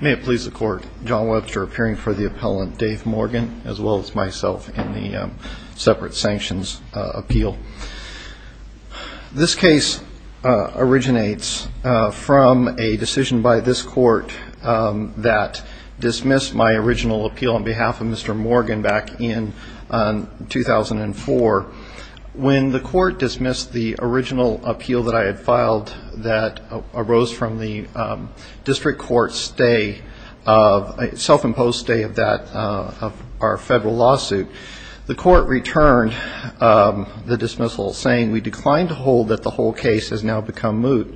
May it please the court, John Webster appearing for the appellant, Dave Morgan, as well as myself in the separate sanctions appeal. This case originates from a decision by this court that dismissed my original appeal on behalf of Mr. Morgan back in 2004. When the court dismissed the original appeal that I had filed that arose from the district court's stay, self-imposed stay of our federal lawsuit, the court returned the dismissal saying we declined to hold that the whole case has now become moot.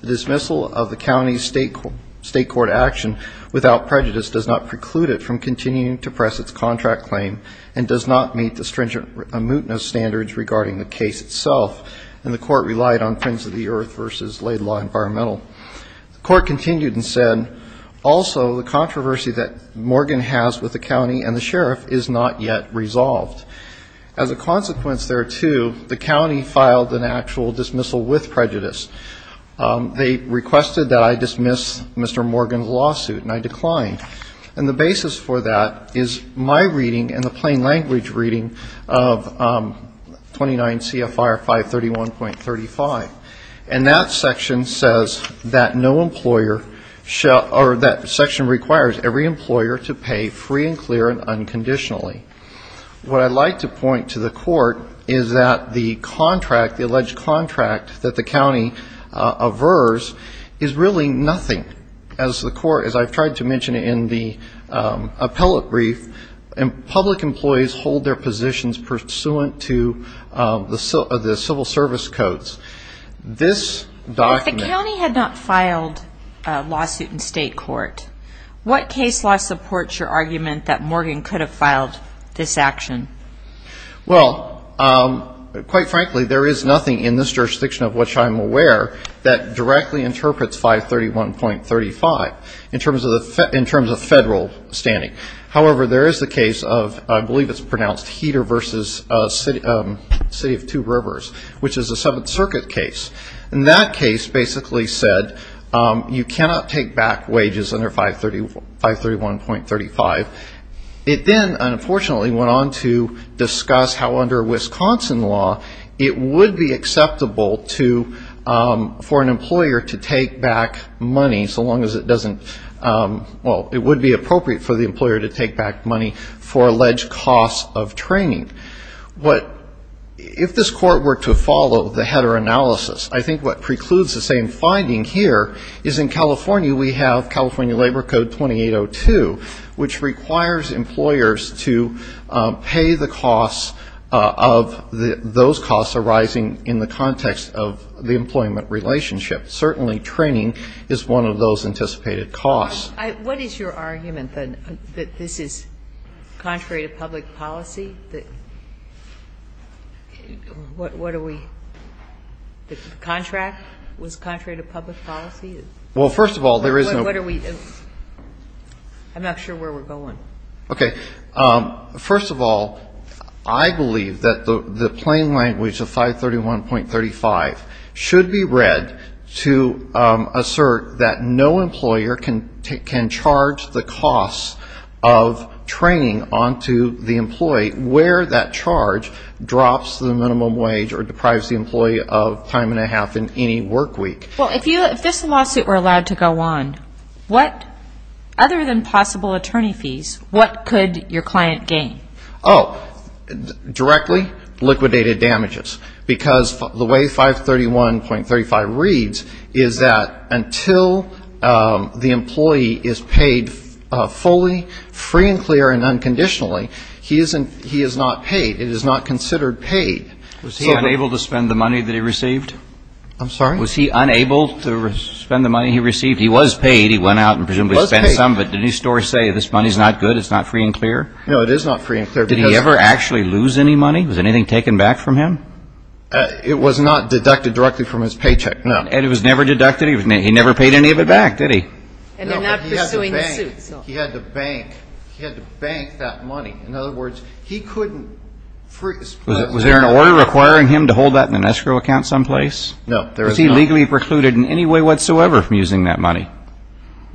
The dismissal of the county's state court action without prejudice does not preclude it from continuing to press its contract claim and does not meet the stringent mootness standards regarding the case itself. And the court relied on Prince of the Earth v. Laid Law Environmental. The court continued and said also the controversy that Morgan has with the county and the sheriff is not yet resolved. As a consequence thereto, the county filed an actual dismissal with prejudice. They requested that I dismiss Mr. Morgan's lawsuit, and I declined. And the basis for that is my reading and the plain language reading of 29 CFR 531.35. And that section says that no employer shall or that section requires every employer to pay free and clear and unconditionally. What I'd like to point to the court is that the contract, the alleged contract that the county averse is really nothing. As the court, as I've tried to mention in the appellate brief, public employees hold their positions pursuant to the civil service codes. If the county had not filed a lawsuit in state court, what case law supports your argument that Morgan could have filed this action? Well, quite frankly, there is nothing in this jurisdiction of which I'm aware that directly interprets 531.35 in terms of federal standing. However, there is the case of I believe it's pronounced Heater v. City of Two Rivers, which is a Seventh Circuit case. And that case basically said you cannot take back wages under 531.35. It then unfortunately went on to discuss how under Wisconsin law it would be acceptable to, for an employer to take back money, so long as it doesn't, well, it would be appropriate for the employer to take back money for alleged costs of training. But if this court were to follow the Heater analysis, I think what precludes the same finding here is in California we have California Labor Code 2802, which requires employers to pay the costs of those costs arising in the context of the employment relationship. Certainly training is one of those anticipated costs. What is your argument, then, that this is contrary to public policy? What are we, the contract was contrary to public policy? Well, first of all, there is no. I'm not sure where we're going. Okay. First of all, I believe that the plain language of 531.35 should be read to assert that no employer can charge the costs of training onto the employee where that charge drops the minimum wage or deprives the employee of time and a half in any work week. Well, if this lawsuit were allowed to go on, what, other than possible attorney fees, what could your client gain? Oh, directly, liquidated damages. Because the way 531.35 reads is that until the employee is paid fully, free and clear and unconditionally, he is not paid. It is not considered paid. Was he unable to spend the money that he received? I'm sorry? Was he unable to spend the money he received? He was paid. He went out and presumably spent some. But didn't his story say this money is not good, it's not free and clear? No, it is not free and clear. And it was not deducted directly from his paycheck? No. And it was never deducted? He never paid any of it back, did he? No, but he had to bank. He had to bank. He had to bank that money. In other words, he couldn't freeze. Was there an order requiring him to hold that in an escrow account someplace? No, there was not. And he wasn't precluded in any way whatsoever from using that money?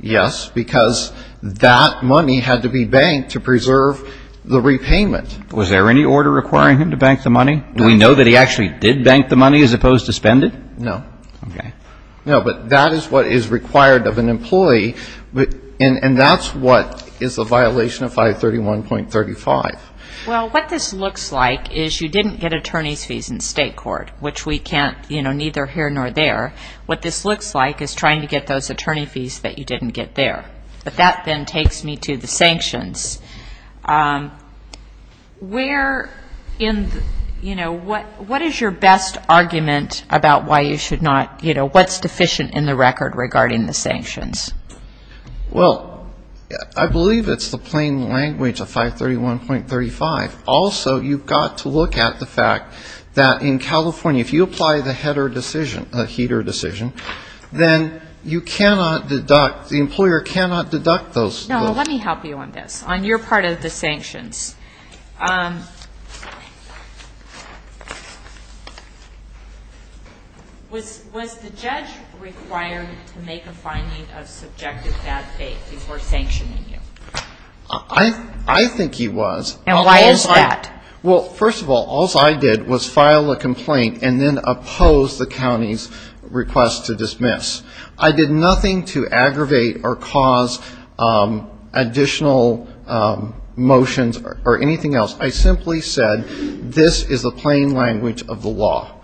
Yes, because that money had to be banked to preserve the repayment. Was there any order requiring him to bank the money? Do we know that he actually did bank the money as opposed to spend it? No. No, but that is what is required of an employee, and that's what is a violation of 531.35. Well, what this looks like is you didn't get attorney's fees in state court, which we can't, you know, neither here nor there. What this looks like is trying to get those attorney fees that you didn't get there. But that then takes me to the sanctions. Where in, you know, what is your best argument about why you should not, you know, what's deficient in the record regarding the sanctions? Well, I believe it's the plain language of 531.35. Also, you've got to look at the fact that in California, if you apply the header decision, the heater decision, then you cannot deduct, the employer cannot deduct those. No, let me help you on this. On your part of the sanctions, was the judge required to make a finding of subjective bad faith before sanctioning you? I think he was. And why is that? Well, first of all, all I did was file a complaint and then oppose the county's request to dismiss. I did nothing to aggravate or cause additional motions or anything else. I simply said this is the plain language of the law.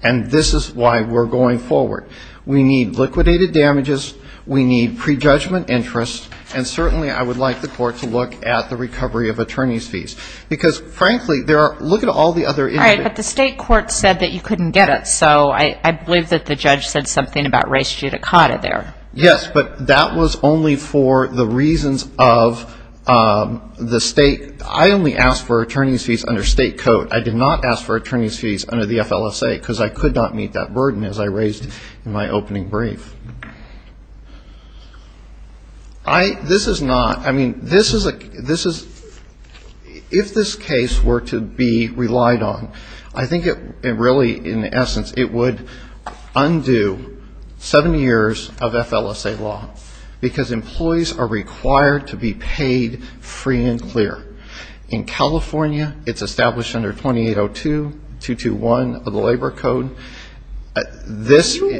And this is why we're going forward. We need liquidated damages. We need prejudgment interest. And certainly I would like the court to look at the recovery of attorney's fees. Because, frankly, look at all the other issues. All right, but the state court said that you couldn't get it. So I believe that the judge said something about res judicata there. Yes, but that was only for the reasons of the state. I only asked for attorney's fees under state code. I did not ask for attorney's fees under the FLSA, because I could not meet that burden as I raised in my opening brief. This is not ñ I mean, this is ñ if this case were to be relied on, I think it really, in essence, it would undo seven years of FLSA law, because employees are required to be paid free and clear. In California, it's established under 2802, 221 of the Labor Code.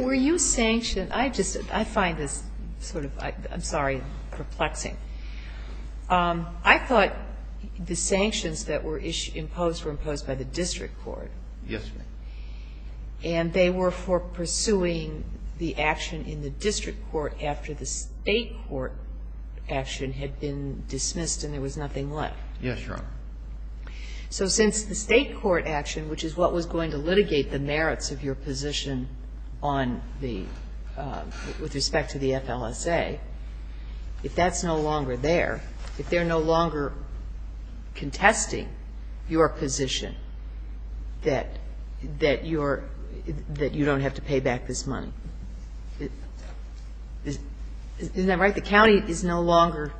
Were you sanctioned? I just ñ I find this sort of ñ I'm sorry, perplexing. I thought the sanctions that were imposed were imposed by the district court. Yes, Your Honor. And they were for pursuing the action in the district court after the state court action had been dismissed and there was nothing left. Yes, Your Honor. So since the state court action, which is what was going to litigate the merits of your position on the ñ with respect to the FLSA, if that's no longer there, if they're no longer contesting your position that you're ñ that you don't have to pay back this money, isn't that right? The county is no longer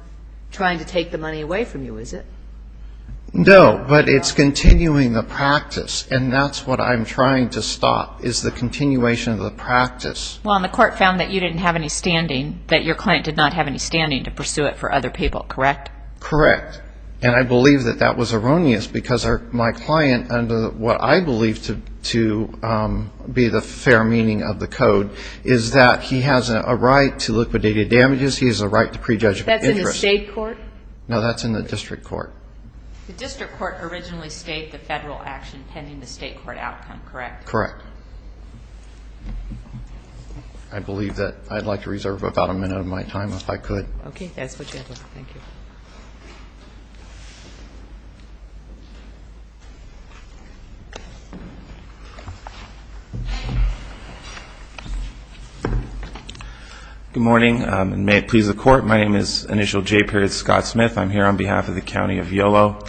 trying to take the money away from you, is it? No, but it's continuing the practice, and that's what I'm trying to stop is the continuation of the practice. Well, and the court found that you didn't have any standing, that your client did not have any standing to pursue it for other people, correct? Correct. And I believe that that was erroneous because my client, under what I believe to be the fair meaning of the code, is that he has a right to liquidated damages, he has a right to prejudicial interest. That's in the state court? No, that's in the district court. The district court originally stayed the federal action pending the state court outcome, correct? Correct. I believe that I'd like to reserve about a minute of my time if I could. Okay, that's what you have. Thank you. Good morning, and may it please the court, my name is Initial J. Scott Smith, I'm here on behalf of the County of Yolo.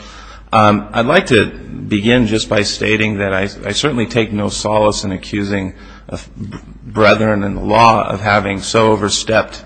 I'd like to begin just by stating that I certainly take no solace in accusing a brethren in the law of having so overstepped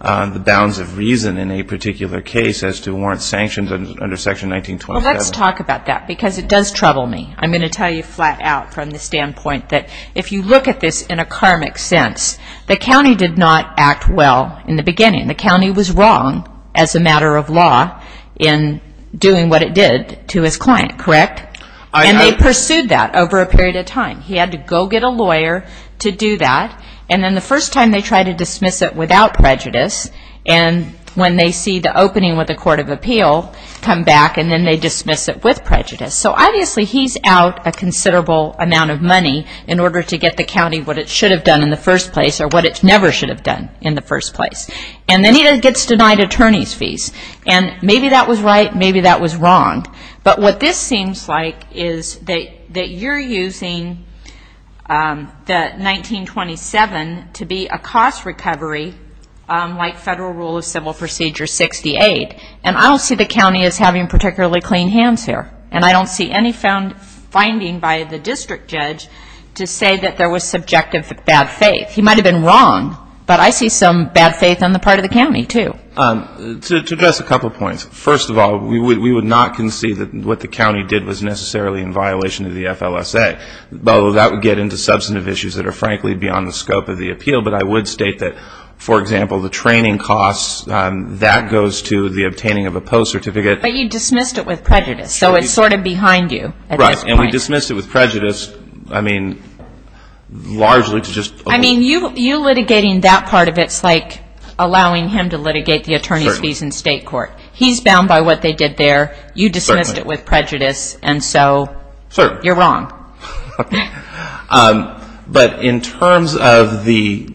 the bounds of reason in a particular case as to warrant sanctions under Section 1927. Well, let's talk about that because it does trouble me. I'm going to tell you flat out from the standpoint that if you look at this in a karmic sense, the county did not act well in the beginning. The county was wrong as a matter of law in doing what it did to his client, correct? And they pursued that over a period of time. He had to go get a lawyer to do that, and then the first time they tried to dismiss it without prejudice, and when they see the opening with the court of appeal come back and then they dismiss it with prejudice. So obviously he's out a considerable amount of money in order to get the county what it should have done in the first place or what it never should have done in the first place. And then he gets denied attorney's fees, and maybe that was right, maybe that was wrong. But what this seems like is that you're using the 1927 to be a cost recovery like Federal Rule of Civil Procedure 68, and I don't see the county as having particularly clean hands here, and I don't see any finding by the district judge to say that there was subjective bad faith. He might have been wrong, but I see some bad faith on the part of the county, too. To address a couple of points. First of all, we would not concede that what the county did was necessarily in violation of the FLSA, although that would get into substantive issues that are frankly beyond the scope of the appeal. But I would state that, for example, the training costs, that goes to the obtaining of a post certificate. But you dismissed it with prejudice, so it's sort of behind you at this point. Right. And we dismissed it with prejudice, I mean, largely to just. I mean, you litigating that part of it is like allowing him to litigate the attorney's fees in state court. He's bound by what they did there. You dismissed it with prejudice, and so you're wrong. But in terms of the,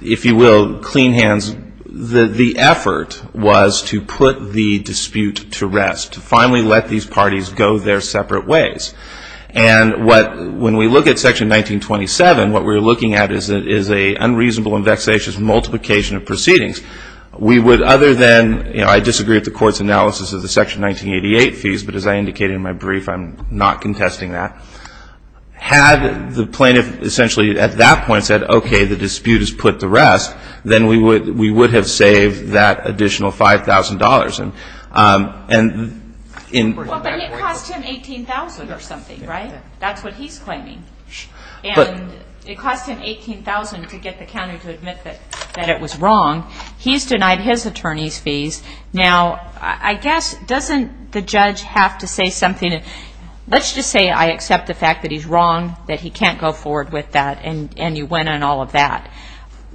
if you will, clean hands, the effort was to put the dispute to rest, to finally let these parties go their separate ways. And when we look at Section 1927, what we're looking at is an unreasonable and vexatious multiplication of proceedings. We would, other than, you know, I disagree with the court's analysis of the Section 1988 fees, but as I indicated in my brief, I'm not contesting that. Had the plaintiff essentially at that point said, okay, the dispute is put to rest, Well, but it cost him $18,000 or something, right? That's what he's claiming. And it cost him $18,000 to get the county to admit that it was wrong. He's denied his attorney's fees. Now, I guess, doesn't the judge have to say something? Let's just say I accept the fact that he's wrong, that he can't go forward with that, and you win on all of that.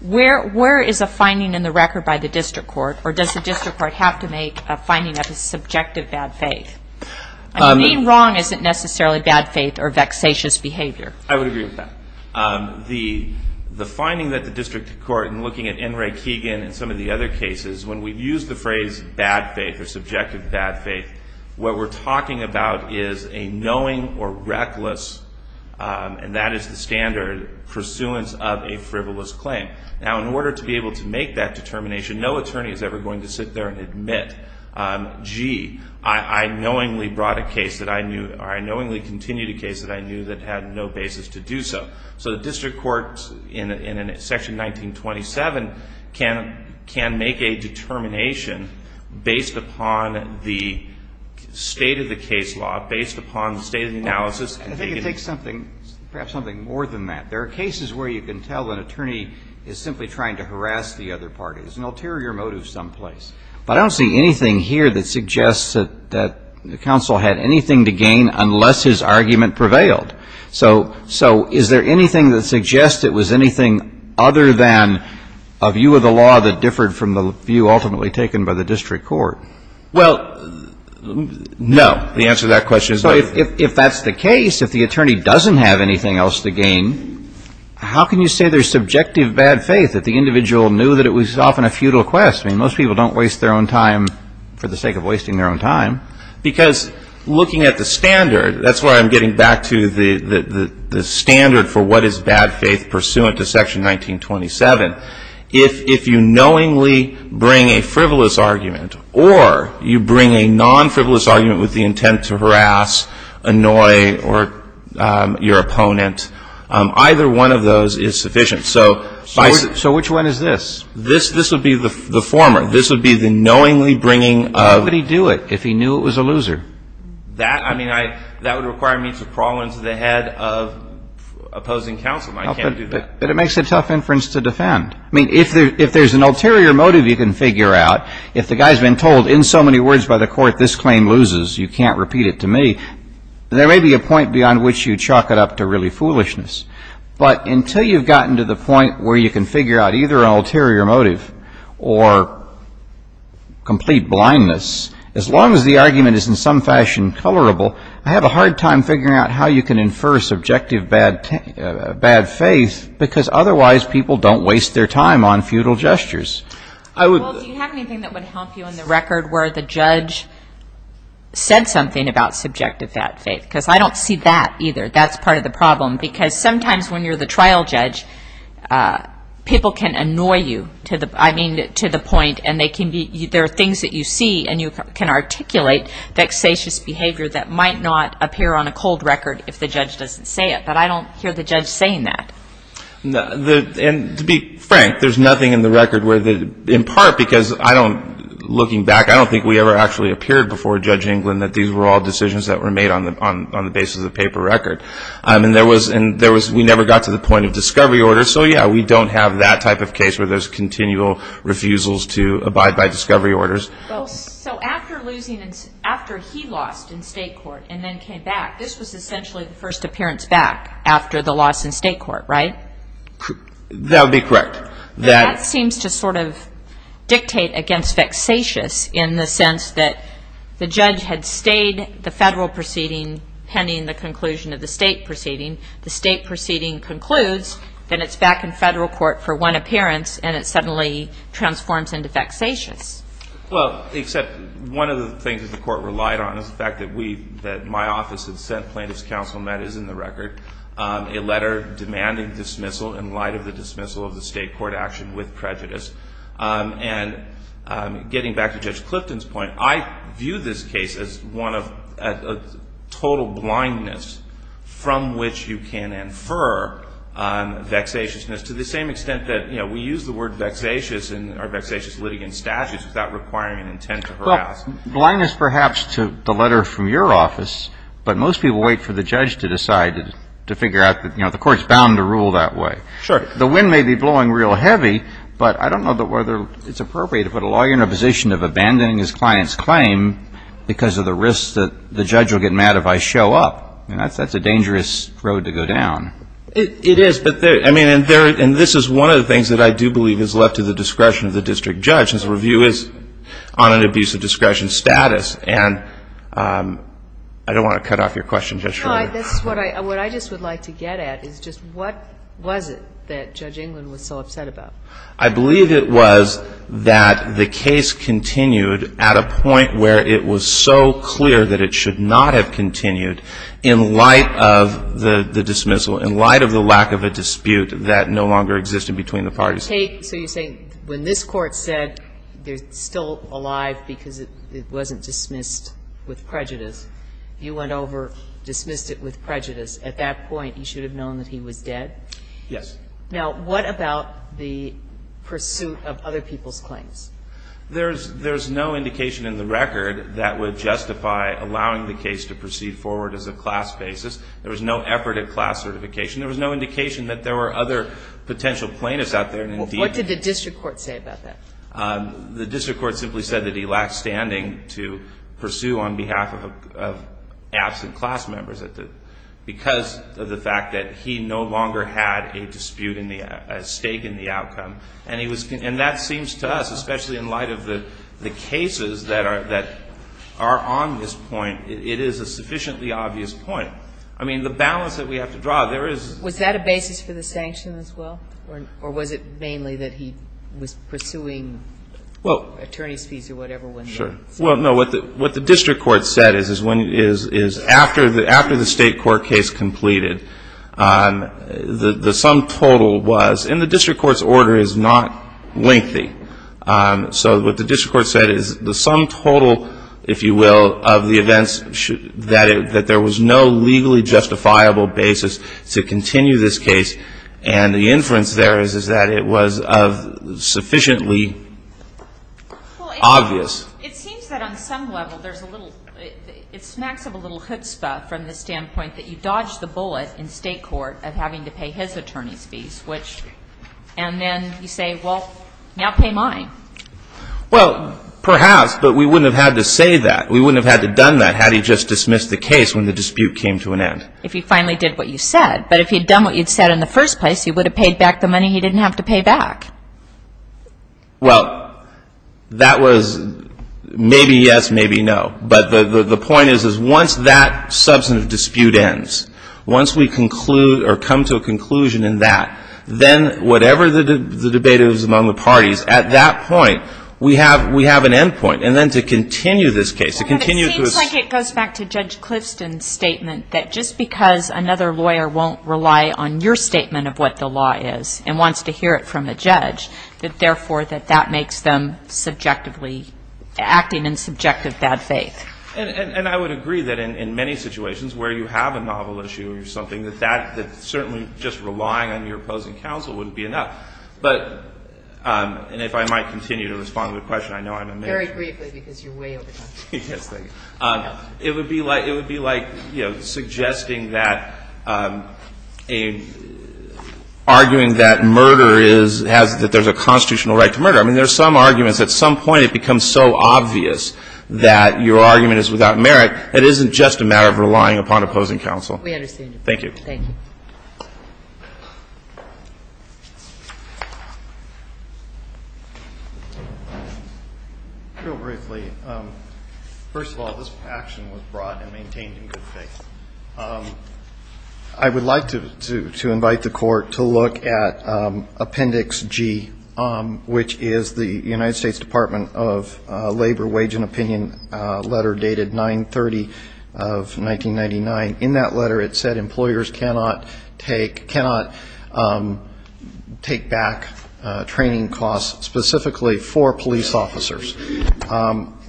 Where is a finding in the record by the district court, or does the district court have to make a finding that is subjective bad faith? Being wrong isn't necessarily bad faith or vexatious behavior. I would agree with that. The finding that the district court, in looking at N. Ray Keegan and some of the other cases, when we use the phrase bad faith or subjective bad faith, what we're talking about is a knowing or reckless, and that is the standard, pursuance of a frivolous claim. Now, in order to be able to make that determination, no attorney is ever going to sit there and admit, gee, I knowingly brought a case that I knew, or I knowingly continued a case that I knew that had no basis to do so. So the district court, in Section 1927, can make a determination based upon the state of the case law, based upon the state of the analysis. I think it takes something, perhaps something more than that. There are cases where you can tell an attorney is simply trying to harass the other party. There's an ulterior motive someplace. But I don't see anything here that suggests that counsel had anything to gain unless his argument prevailed. So is there anything that suggests it was anything other than a view of the law that differed from the view ultimately taken by the district court? Well, no. The answer to that question is no. So if that's the case, if the attorney doesn't have anything else to gain, how can you say there's subjective bad faith, that the individual knew that it was often a futile quest? I mean, most people don't waste their own time for the sake of wasting their own time. Because looking at the standard, that's why I'm getting back to the standard for what is bad faith pursuant to Section 1927. If you knowingly bring a frivolous argument or you bring a non-frivolous argument with the intent to harass, annoy, or your opponent, either one of those is sufficient. So which one is this? This would be the former. This would be the knowingly bringing of. How would he do it if he knew it was a loser? That, I mean, that would require me to crawl into the head of opposing counsel. I can't do that. But it makes a tough inference to defend. I mean, if there's an ulterior motive you can figure out, if the guy's been told in so many words by the court, this claim loses, you can't repeat it to me, there may be a point beyond which you chalk it up to really foolishness. But until you've gotten to the point where you can figure out either an ulterior motive or complete blindness, as long as the argument is in some fashion colorable, I have a hard time figuring out how you can infer subjective bad faith because otherwise people don't waste their time on futile gestures. Well, do you have anything that would help you in the record where the judge said something about subjective bad faith? Because I don't see that either. That's part of the problem because sometimes when you're the trial judge, people can annoy you to the point and there are things that you see and you can articulate, vexatious behavior that might not appear on a cold record if the judge doesn't say it. But I don't hear the judge saying that. And to be frank, there's nothing in the record where the, in part because I don't, looking back, I don't think we ever actually appeared before Judge England that these were all decisions that were made on the basis of paper record. And there was, we never got to the point of discovery order. So yeah, we don't have that type of case where there's continual refusals to abide by discovery orders. So after losing, after he lost in state court and then came back, this was essentially the first appearance back after the loss in state court, right? That would be correct. That seems to sort of dictate against vexatious in the sense that the judge had stayed the federal proceeding pending the conclusion of the state proceeding. The state proceeding concludes, then it's back in federal court for one appearance, and it suddenly transforms into vexatious. Well, except one of the things that the court relied on is the fact that we, that my office had sent plaintiff's counsel, and that is in the record, a letter demanding dismissal in light of the dismissal of the state court action with prejudice. And getting back to Judge Clifton's point, I view this case as one of total blindness from which you can infer vexatiousness to the same extent that, you know, we use the word vexatious in our vexatious litigant statutes without requiring an intent to harass. Well, blindness perhaps to the letter from your office, but most people wait for the judge to decide to figure out that, you know, the court's bound to rule that way. Sure. The wind may be blowing real heavy, but I don't know whether it's appropriate to put a lawyer in a position of abandoning his client's claim because of the risk that the judge will get mad if I show up. I mean, that's a dangerous road to go down. It is, but there, I mean, and there, and this is one of the things that I do believe is left to the discretion of the district judge, is review is on an abuse of discretion status. And I don't want to cut off your question just yet. No, this is what I, what I just would like to get at is just what was it that Judge England was so upset about? I believe it was that the case continued at a point where it was so clear that it should not have continued in light of the dismissal, in light of the lack of a dispute that no longer existed between the parties. So you're saying when this Court said they're still alive because it wasn't dismissed with prejudice, you went over, dismissed it with prejudice. At that point, he should have known that he was dead? Yes. Now, what about the pursuit of other people's claims? There's no indication in the record that would justify allowing the case to proceed forward as a class basis. There was no effort at class certification. There was no indication that there were other potential plaintiffs out there. What did the district court say about that? The district court simply said that he lacked standing to pursue on behalf of absent class members because of the fact that he no longer had a dispute in the, a stake in the outcome. And he was, and that seems to us, especially in light of the cases that are on this point, it is a sufficiently obvious point. I mean, the balance that we have to draw, there is. Was that a basis for the sanction as well? Or was it mainly that he was pursuing attorney's fees or whatever? Sure. Well, no, what the district court said is after the state court case completed, the sum total was, and the district court's order is not lengthy. So what the district court said is the sum total, if you will, of the events, that there was no legally justifiable basis to continue this case. And the inference there is that it was sufficiently obvious. It seems that on some level there's a little, it smacks of a little chutzpah from the standpoint that you dodged the bullet in state court of having to pay his attorney's fees, which, and then you say, well, now pay mine. Well, perhaps, but we wouldn't have had to say that. We wouldn't have had to done that had he just dismissed the case when the dispute came to an end. If he finally did what you said. But if he'd done what you'd said in the first place, he would have paid back the money he didn't have to pay back. Well, that was maybe yes, maybe no. But the point is, is once that substantive dispute ends, once we conclude or come to a conclusion in that, then whatever the debate is among the parties, at that point we have an end point. And then to continue this case, to continue to assume. It seems like it goes back to Judge Clifston's statement that just because another lawyer won't rely on your statement of what the law is and wants to hear it from the judge, that, therefore, that that makes them subjectively acting in subjective bad faith. And I would agree that in many situations where you have a novel issue or something, that certainly just relying on your opposing counsel wouldn't be enough. But, and if I might continue to respond to the question, I know I'm a major. Very briefly, because you're way over time. Yes, thank you. It would be like, you know, suggesting that a, arguing that murder is, has, that there's a constitutional right to murder. I mean, there's some arguments. At some point it becomes so obvious that your argument is without merit. It isn't just a matter of relying upon opposing counsel. We understand. Real briefly, first of all, this action was brought and maintained in good faith. I would like to invite the court to look at Appendix G, which is the United States Department of Labor Wage and Opinion letter dated 9-30 of 1999. In that letter it said employers cannot take back training costs specifically for police officers.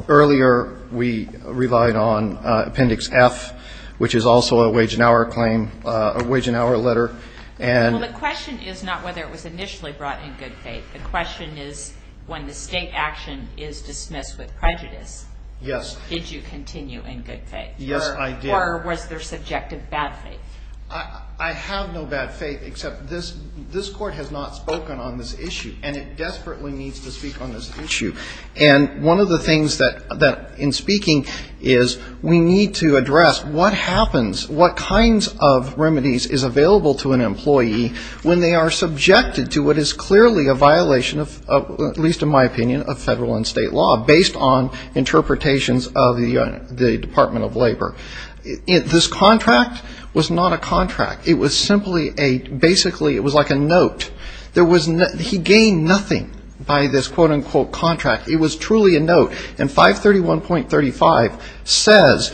Earlier we relied on Appendix F, which is also a wage and hour claim, a wage and hour letter. Well, the question is not whether it was initially brought in good faith. The question is when the state action is dismissed with prejudice. Yes. Did you continue in good faith? Yes, I did. Or was there subjective bad faith? I have no bad faith, except this court has not spoken on this issue, and it desperately needs to speak on this issue. And one of the things that, in speaking, is we need to address what happens, what kinds of remedies is available to an employee when they are subjected to what is clearly a violation of, at least in my opinion, of federal and state law based on interpretations of the Department of Labor. This contract was not a contract. It was simply a, basically it was like a note. There was, he gained nothing by this quote-unquote contract. It was truly a note. And 531.35 says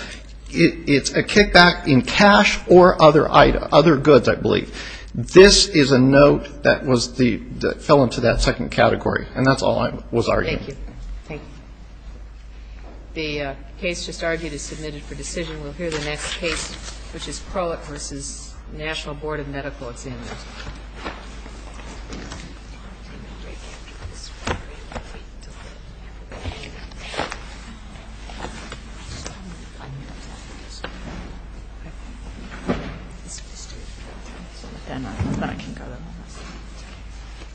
it's a kickback in cash or other goods, I believe. This is a note that was the, that fell into that second category. And that's all I was arguing. Thank you. Thank you. The case just argued is submitted for decision. We'll hear the next case, which is Crowett v. National Board of Medical Examiners. Thank you.